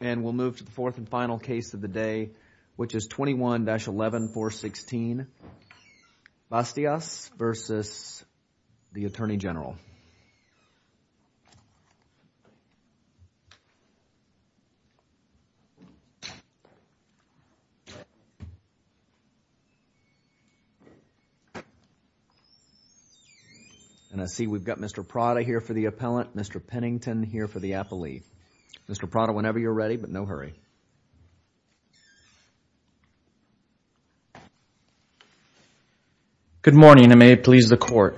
And we'll move to the fourth and final case of the day, which is 21-11, 416, Bastias v. U.S. Attorney General. And I see we've got Mr. Prada here for the appellant, Mr. Pennington here for the appellee. Mr. Prada, whenever you're ready, but no hurry. Good morning, and may it please the Court.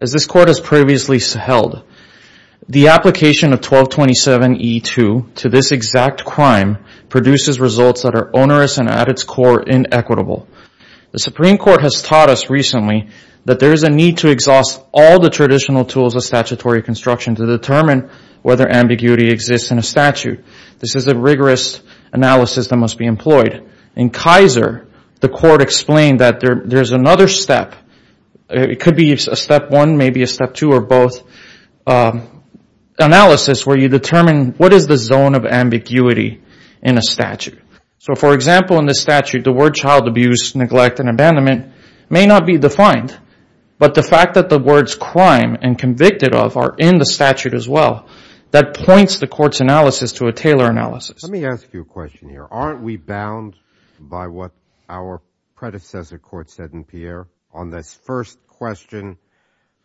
As this Court has previously held, the application of 1227e2 to this exact crime produces results that are onerous and, at its core, inequitable. The Supreme Court has taught us recently that there is a need to exhaust all the traditional tools of statutory construction to determine whether ambiguity exists in a statute. This is a rigorous analysis that must be employed. In Kaiser, the Court explained that there's another step, it could be a step one, maybe a step two, or both, analysis where you determine what is the zone of ambiguity in a statute. So, for example, in this statute, the word child abuse, neglect, and abandonment may not be defined, but the fact that the words crime and convicted of are in the statute as well, that points the Court's analysis to a tailor analysis. Let me ask you a question here. Aren't we bound by what our predecessor court said in Pierre on this first question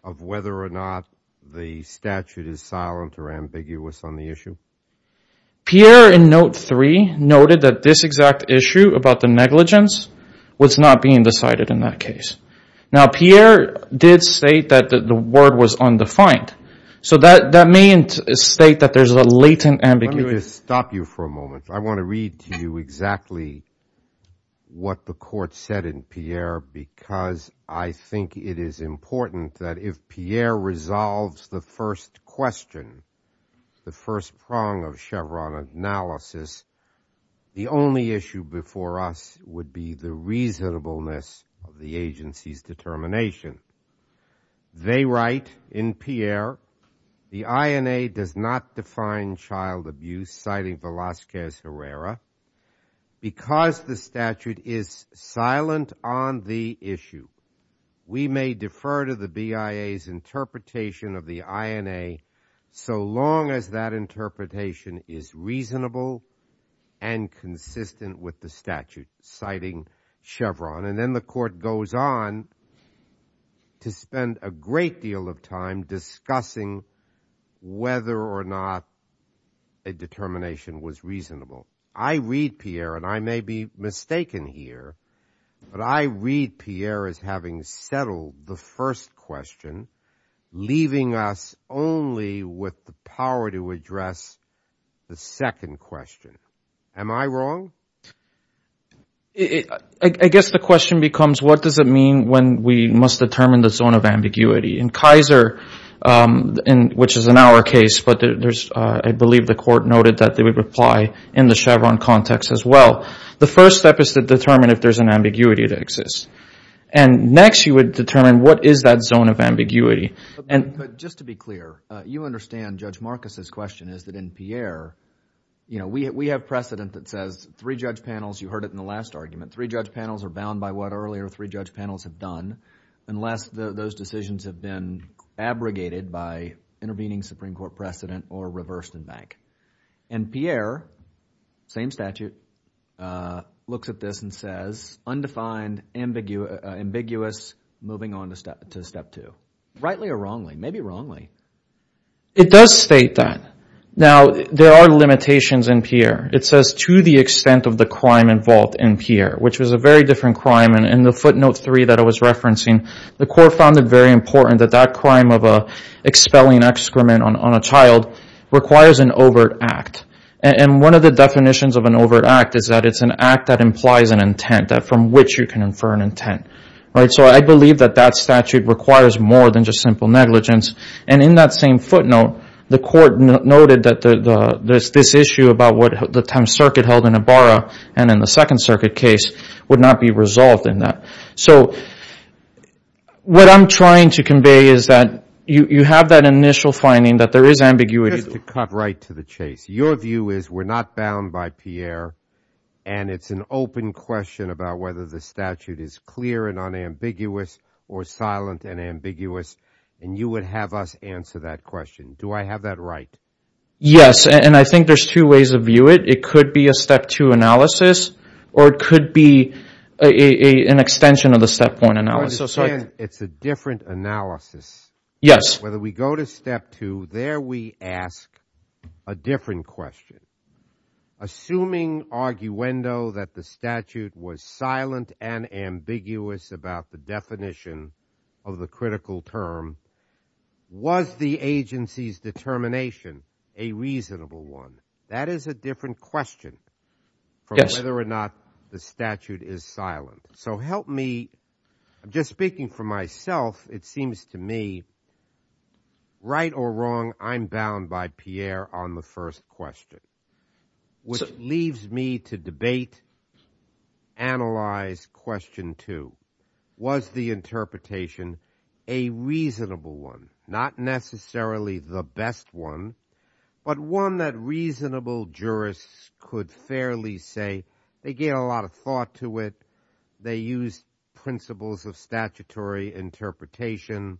of whether or not the statute is silent or ambiguous on the issue? Pierre, in note three, noted that this exact issue about the negligence was not being decided in that case. Now, Pierre did state that the word was undefined, so that may state that there's a latent ambiguity. Let me just stop you for a moment. I want to read to you exactly what the Court said in Pierre because I think it is important that if Pierre resolves the first question, the first prong of Chevron analysis, the only issue before us would be the reasonableness of the agency's determination. They write in Pierre, the INA does not define child abuse, citing Velazquez Herrera, because the statute is silent on the issue. We may defer to the BIA's interpretation of the INA so long as that interpretation is reasonable and consistent with the statute, citing Chevron. And then the Court goes on to spend a great deal of time discussing whether or not a determination was reasonable. I read Pierre, and I may be mistaken here, but I read Pierre as having settled the first question, leaving us only with the power to address the second question. Am I wrong? I guess the question becomes, what does it mean when we must determine the zone of ambiguity? In Kaiser, which is in our case, but I believe the Court noted that they would apply in the Chevron context as well. The first step is to determine if there's an ambiguity that exists. And next, you would determine what is that zone of ambiguity. But just to be clear, you understand Judge Marcus's question is that in Pierre, we have precedent that says three judge panels, you heard it in the last argument, three judge panels are bound by what earlier three judge panels have done unless those decisions have been abrogated by intervening Supreme Court precedent or reversed in bank. And Pierre, same statute, looks at this and says, undefined, ambiguous, moving on to step two. Rightly or wrongly? Maybe wrongly. It does state that. Now, there are limitations in Pierre. It says to the extent of the crime involved in Pierre, which was a very different crime. In the footnote three that I was referencing, the Court found it very important that that crime of expelling excrement on a child requires an overt act. And one of the definitions of an overt act is that it's an act that implies an intent, from which you can infer an intent. So I believe that that statute requires more than just simple negligence. And in that same footnote, the Court noted that this issue about what the time circuit held in Ibarra and in the Second Circuit case would not be resolved in that. So what I'm trying to convey is that you have that initial finding that there is ambiguity. Just to cut right to the chase, your view is we're not bound by Pierre and it's an open question about whether the statute is clear and unambiguous or silent and ambiguous. And you would have us answer that question. Do I have that right? Yes. And I think there's two ways to view it. It could be a step two analysis or it could be an extension of the step one analysis. It's a different analysis. Yes. Whether we go to step two, there we ask a different question. Assuming arguendo that the statute was silent and ambiguous about the definition of the critical term, was the agency's determination a reasonable one? That is a different question from whether or not the statute is silent. So help me. Just speaking for myself, it seems to me right or wrong, I'm bound by Pierre on the first question, which leaves me to debate, analyze question two. Was the interpretation a reasonable one? Not necessarily the best one, but one that reasonable jurists could fairly say they get a lot of thought to it. They use principles of statutory interpretation.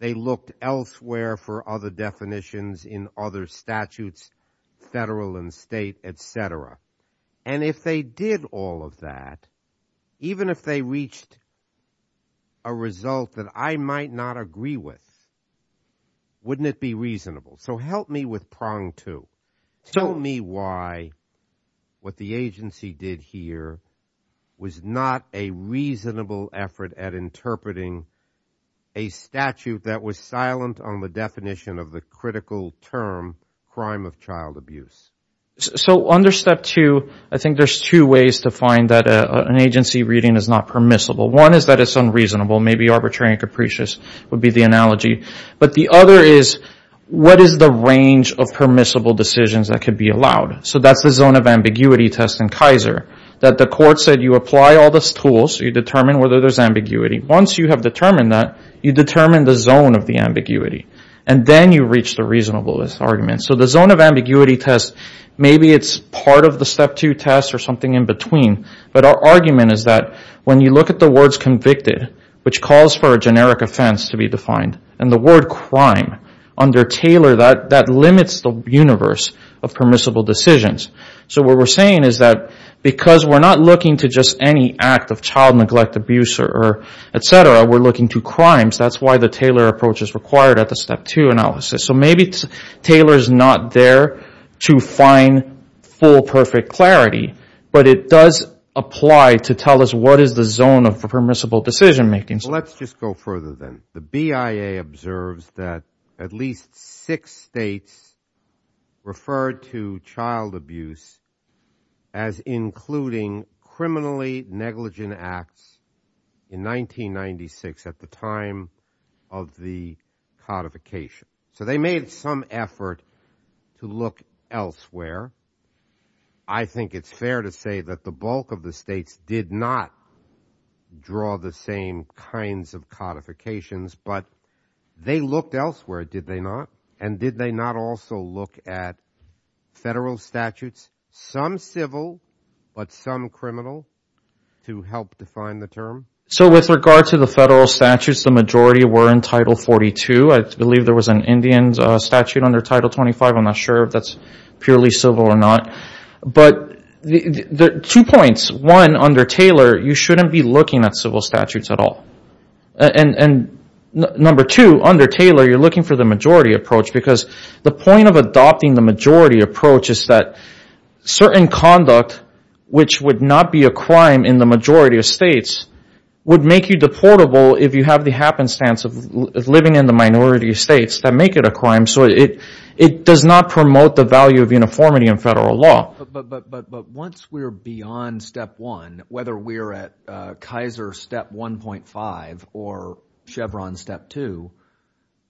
They looked elsewhere for other definitions in other statutes, federal and state, et cetera. And if they did all of that, even if they reached a result that I might not agree with, wouldn't it be reasonable? So help me with prong two. Tell me why what the agency did here was not a reasonable effort at interpreting a statute that was silent on the definition of the critical term, crime of child abuse. So under step two, I think there's two ways to find that an agency reading is not permissible. One is that it's unreasonable. Maybe arbitrary and capricious would be the analogy. But the other is, what is the range of permissible decisions that could be allowed? So that's the zone of ambiguity test in Kaiser, that the court said you apply all these tools, you determine whether there's ambiguity. Once you have determined that, you determine the zone of the ambiguity. And then you reach the reasonableness argument. So the zone of ambiguity test, maybe it's part of the step two test or something in between. But our argument is that when you look at the words convicted, which calls for a generic offense to be defined, and the word crime under Taylor, that limits the universe of permissible decisions. So what we're saying is that because we're not looking to just any act of child neglect, abuse, et cetera, we're looking to crimes. That's why the Taylor approach is required at the step two analysis. So maybe Taylor's not there to find full, perfect clarity. But it does apply to tell us what is the zone of permissible decision making. Let's just go further then. The BIA observes that at least six states referred to child abuse as including criminally negligent acts in 1996 at the time of the codification. So they made some effort to look elsewhere. I think it's fair to say that the bulk of the states did not draw the same kinds of codifications. But they looked elsewhere, did they not? And did they not also look at federal statutes, some civil but some criminal, to help define the term? So with regard to the federal statutes, the majority were in Title 42. I believe there was an Indian statute under Title 25. I'm not sure if that's purely civil or not. But two points. One, under Taylor, you shouldn't be looking at civil statutes at all. And number two, under Taylor, you're looking for the majority approach. Because the point of adopting the majority approach is that certain conduct, which would not be a crime in the majority of states, would make you deportable if you have the happenstance of living in the minority states that make it a crime. So it does not promote the value of uniformity in federal law. But once we're beyond Step 1, whether we're at Kaiser Step 1.5 or Chevron Step 2,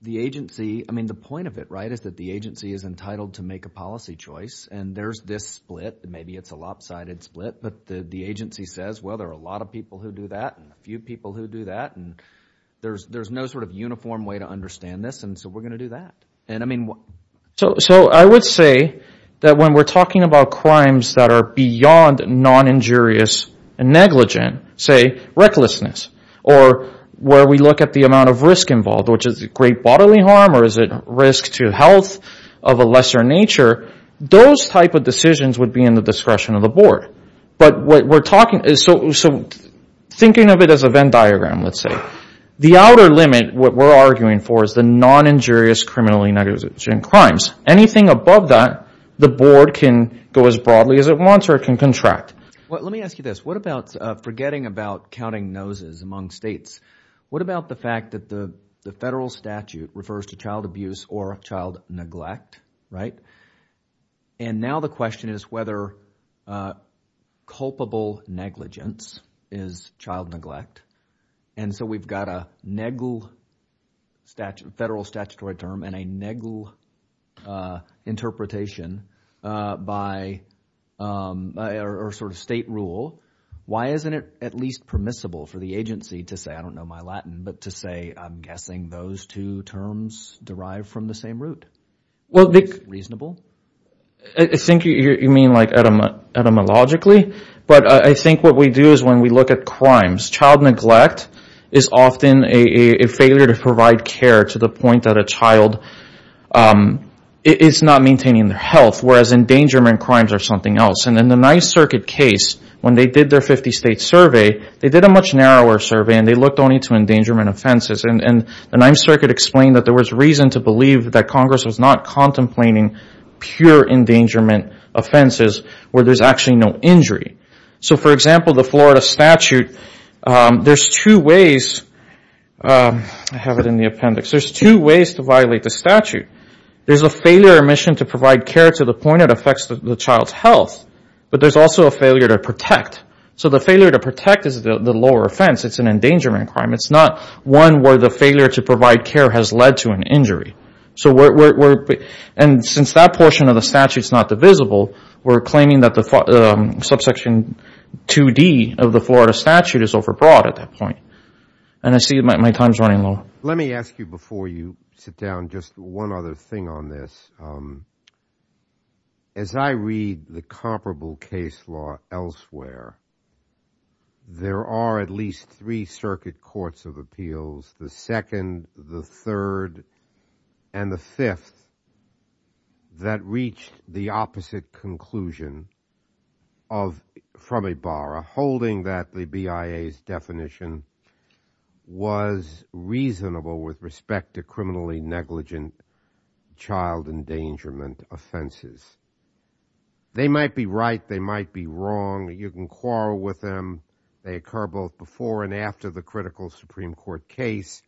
the agency, I mean, the point of it, right, is that the agency is entitled to make a policy choice. And there's this split. Maybe it's a lopsided split. But the agency says, well, there are a lot of people who do that and a few people who do that. And there's no sort of uniform way to understand this. And so we're going to do that. So I would say that when we're talking about crimes that are beyond non-injurious and negligent, say recklessness, or where we look at the amount of risk involved, which is great bodily harm or is it risk to health of a lesser nature, those type of decisions would be in the discretion of the board. So thinking of it as a Venn diagram, let's say, the outer limit, what we're arguing for, is the non-injurious criminally negligent crimes. Anything above that, the board can go as broadly as it wants or it can contract. Let me ask you this. What about forgetting about counting noses among states? What about the fact that the federal statute refers to child abuse or child neglect, right? And now the question is whether culpable negligence is child neglect. And so we've got a federal statutory term and a negligent interpretation or sort of state rule. Why isn't it at least permissible for the agency to say, I don't know my Latin, but to say I'm guessing those two terms derive from the same root? Is that reasonable? I think you mean like etymologically. But I think what we do is when we look at crimes, child neglect is often a failure to provide care to the point that a child is not maintaining their health, whereas endangerment crimes are something else. And in the Ninth Circuit case, when they did their 50-state survey, they did a much narrower survey and they looked only to endangerment offenses. And the Ninth Circuit explained that there was reason to believe that Congress was not contemplating pure endangerment offenses where there's actually no injury. So, for example, the Florida statute, there's two ways. I have it in the appendix. There's two ways to violate the statute. There's a failure or omission to provide care to the point it affects the child's health, but there's also a failure to protect. So the failure to protect is the lower offense. It's an endangerment crime. It's not one where the failure to provide care has led to an injury. And since that portion of the statute is not divisible, we're claiming that the subsection 2D of the Florida statute is overbroad at that point. And I see my time is running low. Let me ask you before you sit down just one other thing on this. As I read the comparable case law elsewhere, there are at least three circuit courts of appeals, the second, the third, and the fifth, that reached the opposite conclusion from Ibarra, holding that the BIA's definition was reasonable with respect to criminally negligent child endangerment offenses. They might be right. They might be wrong. You can quarrel with them. They occur both before and after the critical Supreme Court case.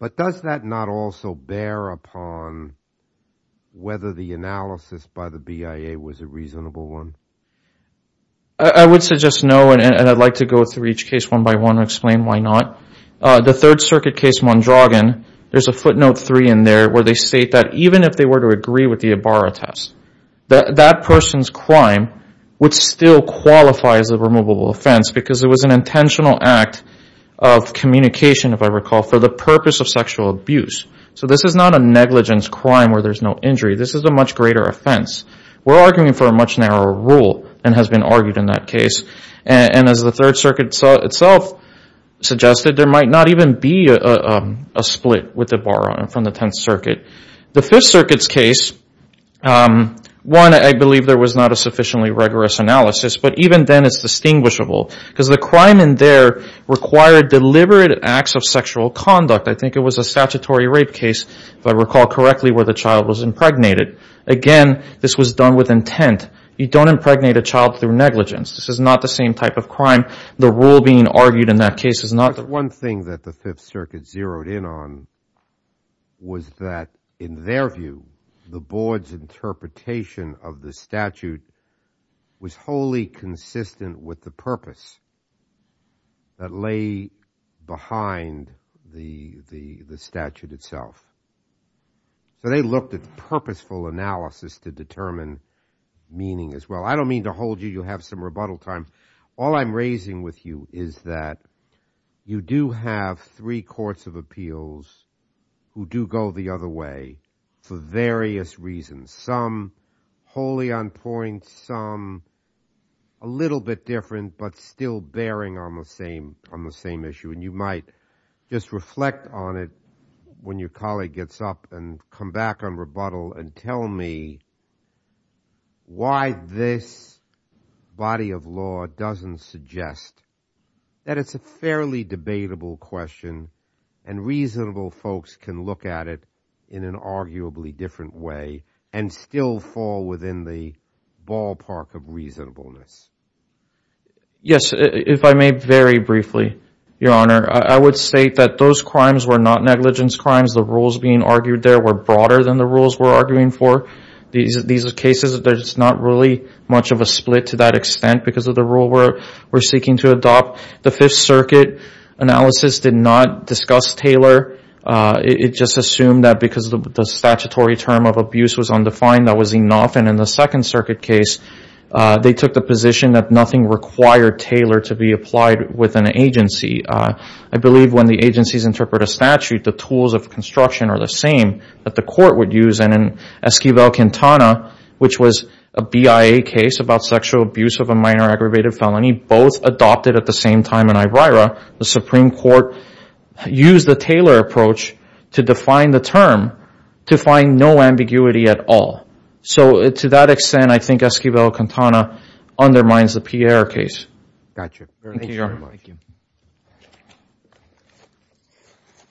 But does that not also bear upon whether the analysis by the BIA was a reasonable one? I would suggest no, and I'd like to go through each case one by one and explain why not. The Third Circuit case Mondragon, there's a footnote three in there where they state that even if they were to agree with the Ibarra test, that that person's crime would still qualify as a removable offense because it was an intentional act of communication, if I recall, for the purpose of sexual abuse. So this is not a negligence crime where there's no injury. This is a much greater offense. We're arguing for a much narrower rule and has been argued in that case. And as the Third Circuit itself suggested, there might not even be a split with Ibarra from the Tenth Circuit. The Fifth Circuit's case, one, I believe there was not a sufficiently rigorous analysis, but even then it's distinguishable because the crime in there required deliberate acts of sexual conduct. I think it was a statutory rape case, if I recall correctly, where the child was impregnated. Again, this was done with intent. You don't impregnate a child through negligence. This is not the same type of crime. The rule being argued in that case is not. One thing that the Fifth Circuit zeroed in on was that, in their view, the board's interpretation of the statute was wholly consistent with the purpose that lay behind the statute itself. So they looked at purposeful analysis to determine meaning as well. I don't mean to hold you. You'll have some rebuttal time. All I'm raising with you is that you do have three courts of appeals who do go the other way for various reasons, some wholly on point, some a little bit different but still bearing on the same issue. You might just reflect on it when your colleague gets up and come back on rebuttal and tell me why this body of law doesn't suggest that it's a fairly debatable question and reasonable folks can look at it in an arguably different way and still fall within the ballpark of reasonableness. Yes, if I may very briefly, Your Honor. I would say that those crimes were not negligence crimes. The rules being argued there were broader than the rules we're arguing for. These cases, there's not really much of a split to that extent because of the rule we're seeking to adopt. The Fifth Circuit analysis did not discuss Taylor. It just assumed that because the statutory term of abuse was undefined, that was enough. In the Second Circuit case, they took the position that nothing required Taylor to be applied with an agency. I believe when the agencies interpret a statute, the tools of construction are the same that the court would use. In Esquivel-Quintana, which was a BIA case about sexual abuse of a minor aggravated felony, both adopted at the same time in Ibrara, the Supreme Court used the Taylor approach to define the term to find no ambiguity at all. To that extent, I think Esquivel-Quintana undermines the Pierre case. Got you. Thank you, Your Honor. Thank you.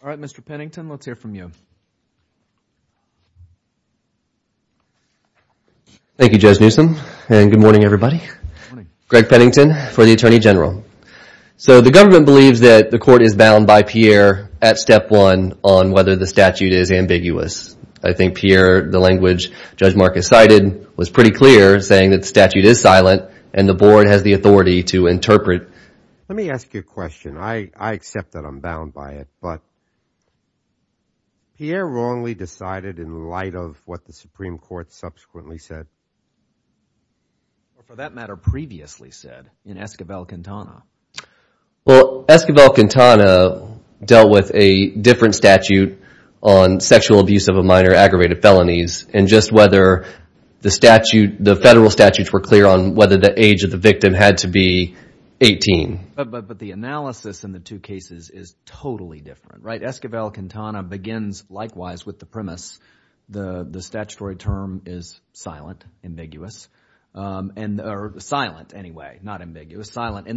All right, Mr. Pennington, let's hear from you. Thank you, Judge Newsom, and good morning, everybody. Greg Pennington for the Attorney General. The government believes that the court is bound by Pierre at step one on whether the statute is ambiguous. I think Pierre, the language Judge Marcus cited, was pretty clear, saying that the statute is silent and the board has the authority to interpret. Let me ask you a question. I accept that I'm bound by it, but Pierre wrongly decided in light of what the Supreme Court subsequently said. For that matter, previously said in Esquivel-Quintana. Well, Esquivel-Quintana dealt with a different statute on sexual abuse of a minor aggravated felonies, and just whether the federal statutes were clear on whether the age of the victim had to be 18. But the analysis in the two cases is totally different, right? Esquivel-Quintana begins likewise with the premise the statutory term is silent, ambiguous. And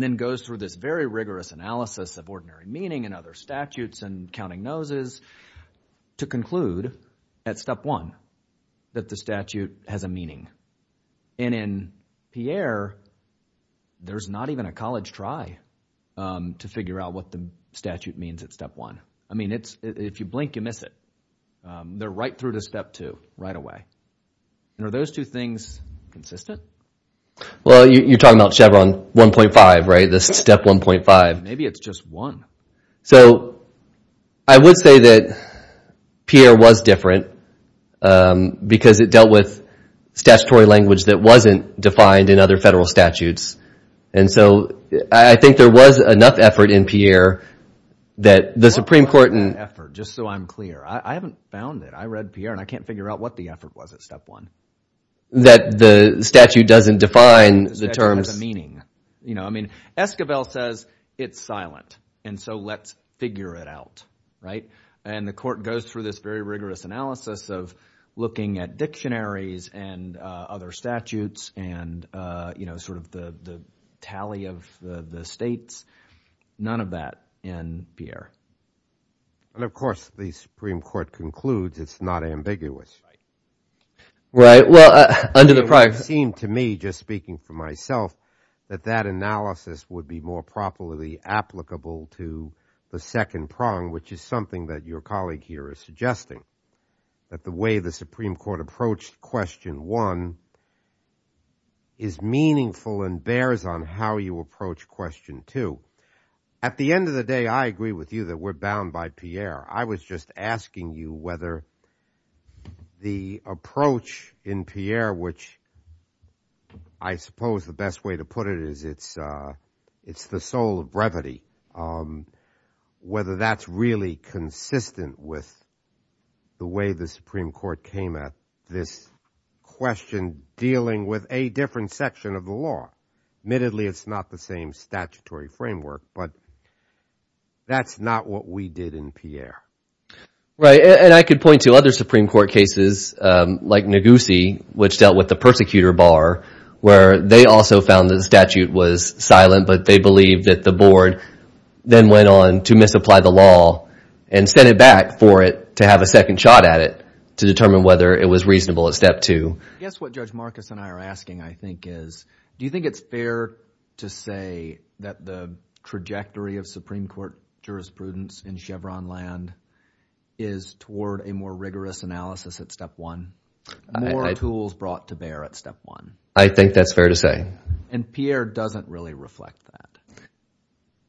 then goes through this very rigorous analysis of ordinary meaning and other statutes and counting noses to conclude at step one that the statute has a meaning. And in Pierre, there's not even a college try to figure out what the statute means at step one. I mean if you blink, you miss it. They're right through to step two right away. Are those two things consistent? Well, you're talking about Chevron 1.5, right? The step 1.5. Maybe it's just one. So, I would say that Pierre was different because it dealt with statutory language that wasn't defined in other federal statutes. And so, I think there was enough effort in Pierre that the Supreme Court. Just so I'm clear, I haven't found it. I read Pierre, and I can't figure out what the effort was at step one. That the statute doesn't define the terms. The statute has a meaning. I mean Esquivel says it's silent, and so let's figure it out, right? And the court goes through this very rigorous analysis of looking at dictionaries and other statutes and sort of the tally of the states. None of that in Pierre. And of course, the Supreme Court concludes it's not ambiguous. Right. Well, under the prior. It seemed to me, just speaking for myself, that that analysis would be more properly applicable to the second prong, which is something that your colleague here is suggesting. That the way the Supreme Court approached question one is meaningful and bears on how you approach question two. At the end of the day, I agree with you that we're bound by Pierre. I was just asking you whether the approach in Pierre, which I suppose the best way to put it is it's the soul of brevity. Whether that's really consistent with the way the Supreme Court came at this question dealing with a different section of the law. Admittedly, it's not the same statutory framework. But that's not what we did in Pierre. Right. And I could point to other Supreme Court cases like Negussie, which dealt with the persecutor bar, where they also found the statute was silent. But they believed that the board then went on to misapply the law and sent it back for it to have a second shot at it to determine whether it was reasonable at step two. I guess what Judge Marcus and I are asking, I think, is do you think it's fair to say that the trajectory of Supreme Court jurisprudence in Chevron land is toward a more rigorous analysis at step one? More tools brought to bear at step one? I think that's fair to say. And Pierre doesn't really reflect that.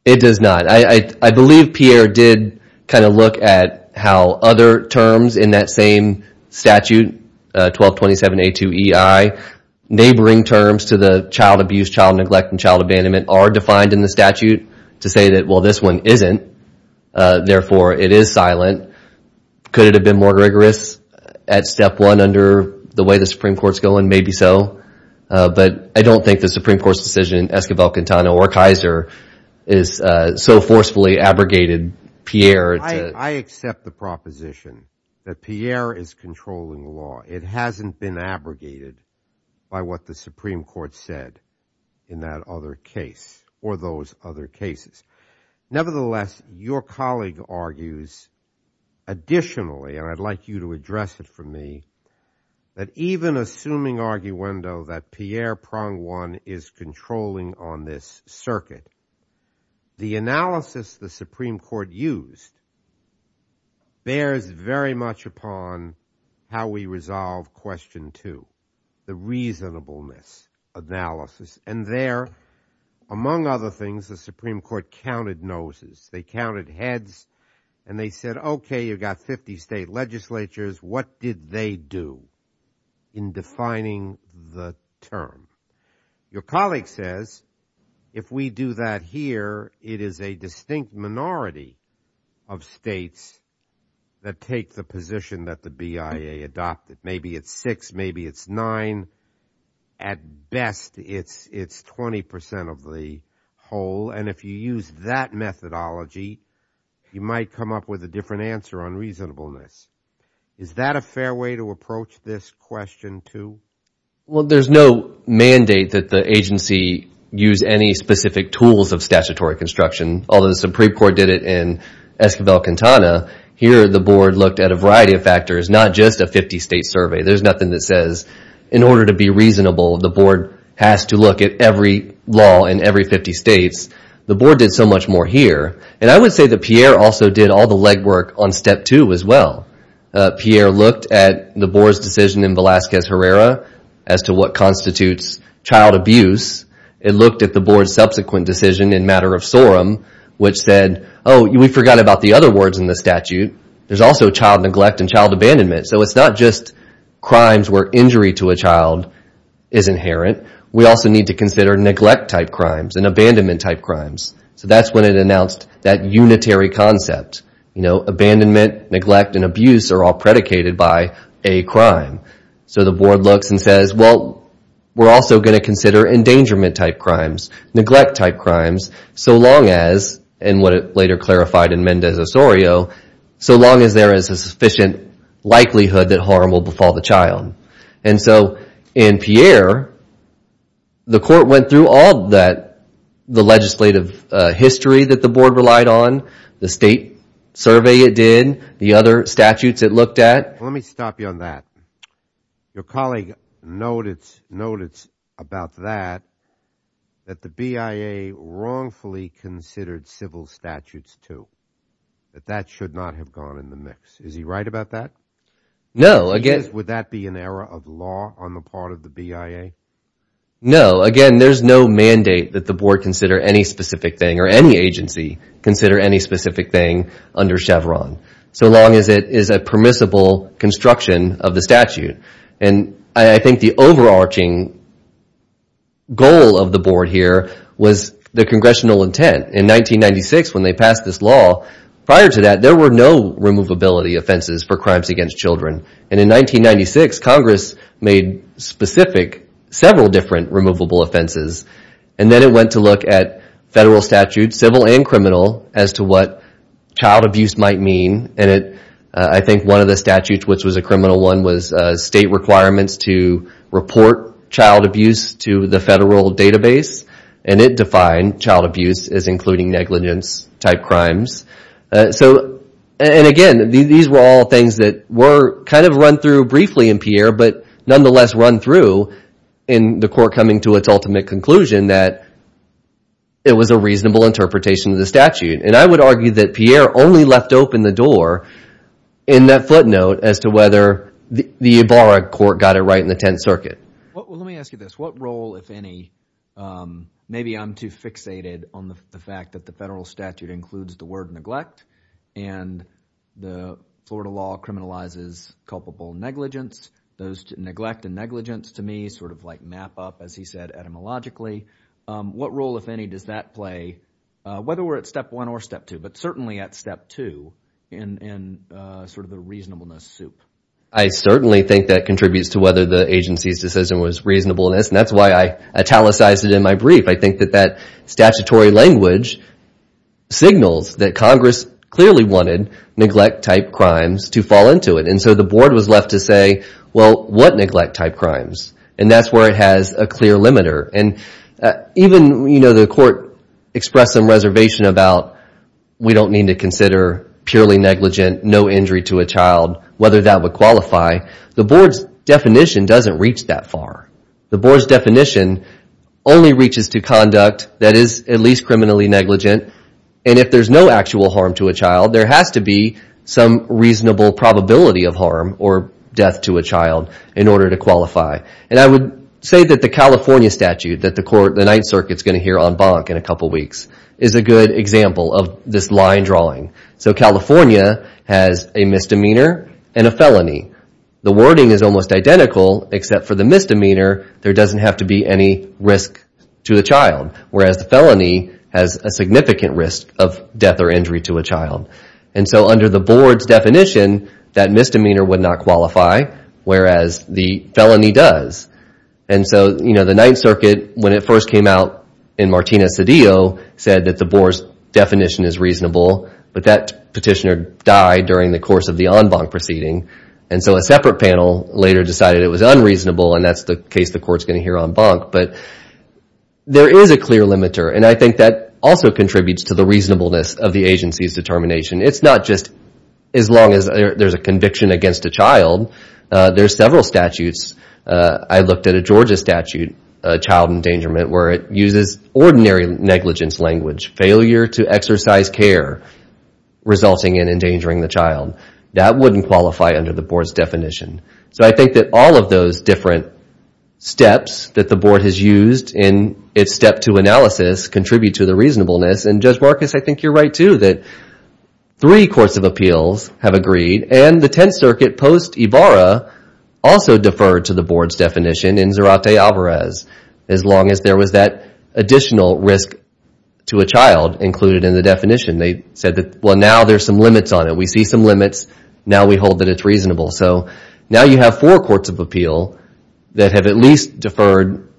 It does not. I believe Pierre did kind of look at how other terms in that same statute, 1227A2EI, neighboring terms to the child abuse, child neglect, and child abandonment are defined in the statute to say that, well, this one isn't. Therefore, it is silent. Could it have been more rigorous at step one under the way the Supreme Court's going? Maybe so. But I don't think the Supreme Court's decision in Esquivel-Quintana or Kaiser is so forcefully abrogated Pierre. I accept the proposition that Pierre is controlling the law. It hasn't been abrogated by what the Supreme Court said in that other case or those other cases. Nevertheless, your colleague argues additionally, and I'd like you to address it for me, that even assuming arguendo that Pierre prong one is controlling on this circuit, the analysis the Supreme Court used bears very much upon how we resolve question two, the reasonableness analysis. And there, among other things, the Supreme Court counted noses. They counted heads, and they said, okay, you've got 50 state legislatures. What did they do in defining the term? Your colleague says if we do that here, it is a distinct minority of states that take the position that the BIA adopted. Maybe it's six. Maybe it's nine. At best, it's 20 percent of the whole, and if you use that methodology, you might come up with a different answer on reasonableness. Is that a fair way to approach this question too? Well, there's no mandate that the agency use any specific tools of statutory construction, although the Supreme Court did it in Esquivel-Quintana. Here, the board looked at a variety of factors, not just a 50-state survey. There's nothing that says in order to be reasonable, the board has to look at every law in every 50 states. The board did so much more here, and I would say that Pierre also did all the legwork on step two as well. Pierre looked at the board's decision in Velazquez-Herrera as to what constitutes child abuse. It looked at the board's subsequent decision in Matter of Sorum, which said, oh, we forgot about the other words in the statute. There's also child neglect and child abandonment, so it's not just crimes where injury to a child is inherent. We also need to consider neglect-type crimes and abandonment-type crimes. So that's when it announced that unitary concept. Abandonment, neglect, and abuse are all predicated by a crime. So the board looks and says, well, we're also going to consider endangerment-type crimes, neglect-type crimes, so long as, and what it later clarified in Mendez-Osorio, so long as there is a sufficient likelihood that harm will befall the child. And so in Pierre, the court went through all the legislative history that the board relied on, the state survey it did, the other statutes it looked at. Let me stop you on that. Your colleague noted about that, that the BIA wrongfully considered civil statutes too, that that should not have gone in the mix. Is he right about that? No. Would that be an error of law on the part of the BIA? No. Again, there's no mandate that the board consider any specific thing or any agency consider any specific thing under Chevron, so long as it is a permissible construction of the statute. And I think the overarching goal of the board here was the congressional intent. In 1996, when they passed this law, prior to that, there were no removability offenses for crimes against children. And in 1996, Congress made specific several different removable offenses. And then it went to look at federal statutes, civil and criminal, as to what child abuse might mean. And I think one of the statutes, which was a criminal one, was state requirements to report child abuse to the federal database. And it defined child abuse as including negligence-type crimes. So, and again, these were all things that were kind of run through briefly in Pierre, but nonetheless run through in the court coming to its ultimate conclusion that it was a reasonable interpretation of the statute. And I would argue that Pierre only left open the door in that footnote as to whether the Ibarra court got it right in the Tenth Circuit. Let me ask you this. What role, if any, maybe I'm too fixated on the fact that the federal statute includes the word neglect, and the Florida law criminalizes culpable negligence. Those neglect and negligence to me sort of like map up, as he said, etymologically. What role, if any, does that play, whether we're at step one or step two, but certainly at step two in sort of the reasonableness soup? I certainly think that contributes to whether the agency's decision was reasonableness, and that's why I italicized it in my brief. I think that that statutory language signals that Congress clearly wanted neglect-type crimes to fall into it. And so the board was left to say, well, what neglect-type crimes? And that's where it has a clear limiter. And even, you know, the court expressed some reservation about, we don't need to consider purely negligent, no injury to a child, whether that would qualify. The board's definition doesn't reach that far. The board's definition only reaches to conduct that is at least criminally negligent. And if there's no actual harm to a child, there has to be some reasonable probability of harm or death to a child in order to qualify. And I would say that the California statute that the Ninth Circuit's going to hear on Bonk in a couple weeks is a good example of this line drawing. So California has a misdemeanor and a felony. The wording is almost identical, except for the misdemeanor, there doesn't have to be any risk to a child, whereas the felony has a significant risk of death or injury to a child. And so under the board's definition, that misdemeanor would not qualify, whereas the felony does. And so, you know, the Ninth Circuit, when it first came out in Martina Cedillo, said that the board's definition is reasonable, but that petitioner died during the course of the En Bonk proceeding. And so a separate panel later decided it was unreasonable, and that's the case the court's going to hear on Bonk. But there is a clear limiter, and I think that also contributes to the reasonableness of the agency's determination. It's not just as long as there's a conviction against a child. There's several statutes. I looked at a Georgia statute, child endangerment, where it uses ordinary negligence language, failure to exercise care resulting in endangering the child. That wouldn't qualify under the board's definition. So I think that all of those different steps that the board has used in its step two analysis contribute to the reasonableness. And Judge Marcus, I think you're right, too, that three courts of appeals have agreed, and the Tenth Circuit post-Ivara also deferred to the board's definition in Zarate Alvarez, as long as there was that additional risk to a child included in the definition. They said that, well, now there's some limits on it. We see some limits. Now we hold that it's reasonable. So now you have four courts of appeal that have at least deferred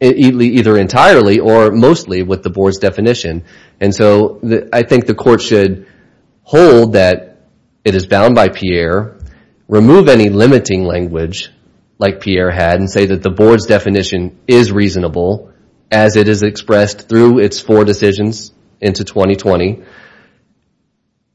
either entirely or mostly with the board's definition. And so I think the court should hold that it is bound by Pierre, remove any limiting language like Pierre had, and say that the board's definition is reasonable as it is expressed through its four decisions into 2020,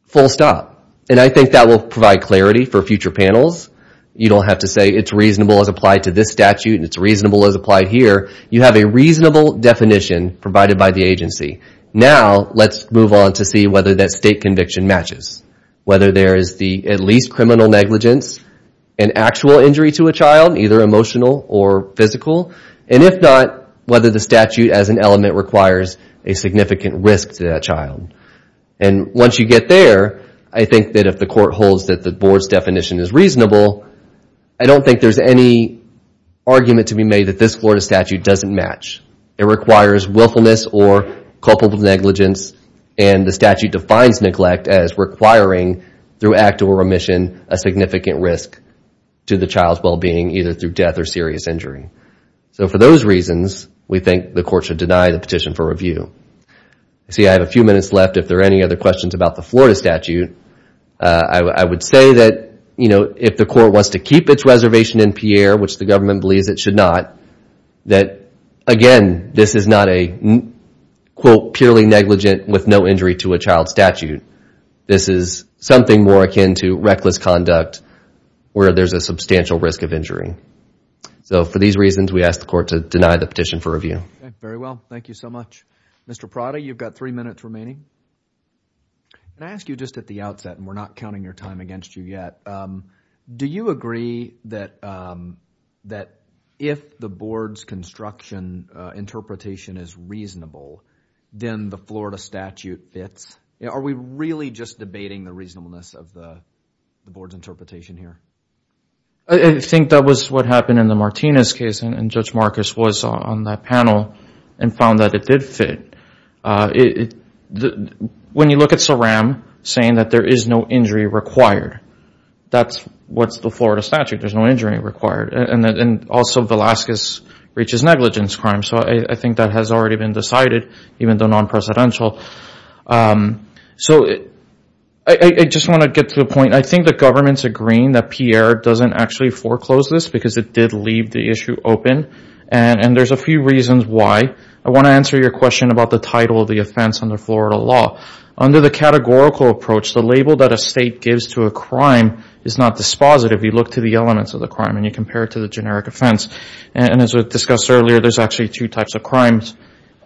full stop. And I think that will provide clarity for future panels. You don't have to say it's reasonable as applied to this statute and it's reasonable as applied here. You have a reasonable definition provided by the agency. Now let's move on to see whether that state conviction matches, whether there is at least criminal negligence and actual injury to a child, either emotional or physical, and if not, whether the statute as an element requires a significant risk to that child. And once you get there, I think that if the court holds that the board's definition is reasonable, I don't think there's any argument to be made that this Florida statute doesn't match. It requires willfulness or culpable negligence, and the statute defines neglect as requiring, through act or remission, a significant risk to the child's well-being, either through death or serious injury. So for those reasons, we think the court should deny the petition for review. See, I have a few minutes left. If there are any other questions about the Florida statute, I would say that if the court wants to keep its reservation in Pierre, which the government believes it should not, that, again, this is not a, quote, purely negligent with no injury to a child statute. This is something more akin to reckless conduct where there's a substantial risk of injury. So for these reasons, we ask the court to deny the petition for review. Very well. Thank you so much. Mr. Prada, you've got three minutes remaining. Can I ask you just at the outset, and we're not counting your time against you yet, do you agree that if the board's construction interpretation is reasonable, then the Florida statute fits? Are we really just debating the reasonableness of the board's interpretation here? I think that was what happened in the Martinez case, and Judge Marcus was on that panel and found that it did fit. When you look at Saram saying that there is no injury required, that's what's the Florida statute. There's no injury required. And also Velazquez reaches negligence crime. So I think that has already been decided, even though non-presidential. So I just want to get to the point. I think the government's agreeing that Pierre doesn't actually foreclose this because it did leave the issue open, and there's a few reasons why. I want to answer your question about the title of the offense under Florida law. Under the categorical approach, the label that a state gives to a crime is not dispositive. You look to the elements of the crime and you compare it to the generic offense. And as was discussed earlier, there's actually two types of crimes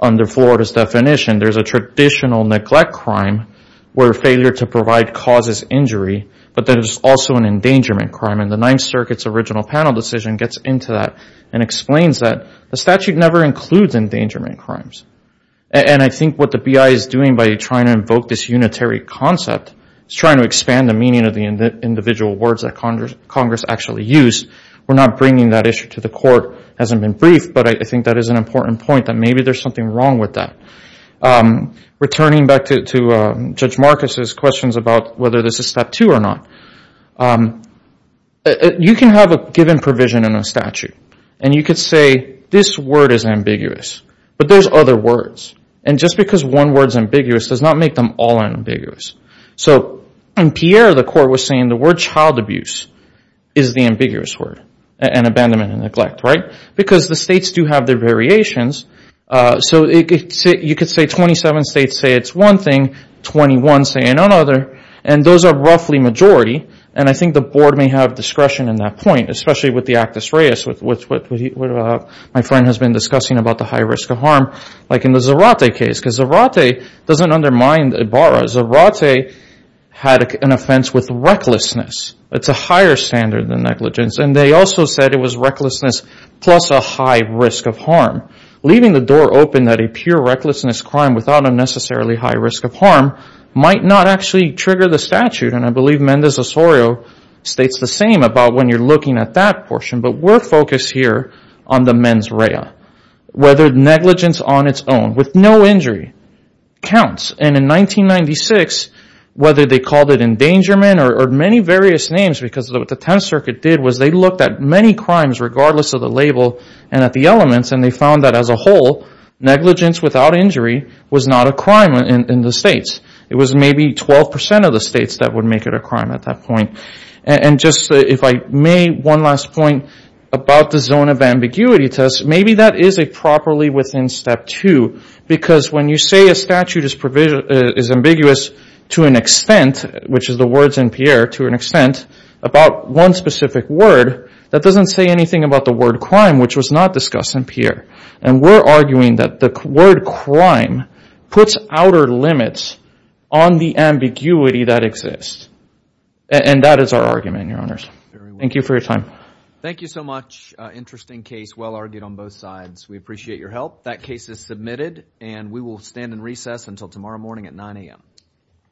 under Florida's definition. There's a traditional neglect crime where failure to provide causes injury, but there's also an endangerment crime. And the Ninth Circuit's original panel decision gets into that and explains that the statute never includes endangerment crimes. And I think what the BI is doing by trying to invoke this unitary concept is trying to expand the meaning of the individual words that Congress actually used. We're not bringing that issue to the court. It hasn't been briefed, but I think that is an important point, that maybe there's something wrong with that. Returning back to Judge Marcus's questions about whether this is Step 2 or not, you can have a given provision in a statute, and you could say, this word is ambiguous, but there's other words. And just because one word is ambiguous does not make them all ambiguous. So in Pierre, the court was saying the word child abuse is the ambiguous word, and abandonment and neglect, right? Because the states do have their variations. So you could say 27 states say it's one thing, 21 say another, and those are roughly majority. And I think the board may have discretion in that point, especially with the Actus Reis, which my friend has been discussing about the high risk of harm, like in the Zarate case. Because Zarate doesn't undermine Ibarra. Zarate had an offense with recklessness. It's a higher standard than negligence. And they also said it was recklessness plus a high risk of harm, leaving the door open that a pure recklessness crime without a necessarily high risk of harm might not actually trigger the statute. And I believe Mendez-Osorio states the same about when you're looking at that portion. But we're focused here on the mens rea, whether negligence on its own with no injury counts. And in 1996, whether they called it endangerment or many various names because what the Tenth Circuit did was they looked at many crimes regardless of the label and at the elements, and they found that as a whole, negligence without injury was not a crime in the states. It was maybe 12% of the states that would make it a crime at that point. And just if I may, one last point about the zone of ambiguity test. Maybe that is a properly within step two because when you say a statute is ambiguous to an extent, which is the words in Pierre to an extent, about one specific word, that doesn't say anything about the word crime, which was not discussed in Pierre. And we're arguing that the word crime puts outer limits on the ambiguity that exists. And that is our argument, Your Honors. Thank you for your time. Thank you so much. Interesting case, well argued on both sides. We appreciate your help. That case is submitted, and we will stand in recess until tomorrow morning at 9 a.m.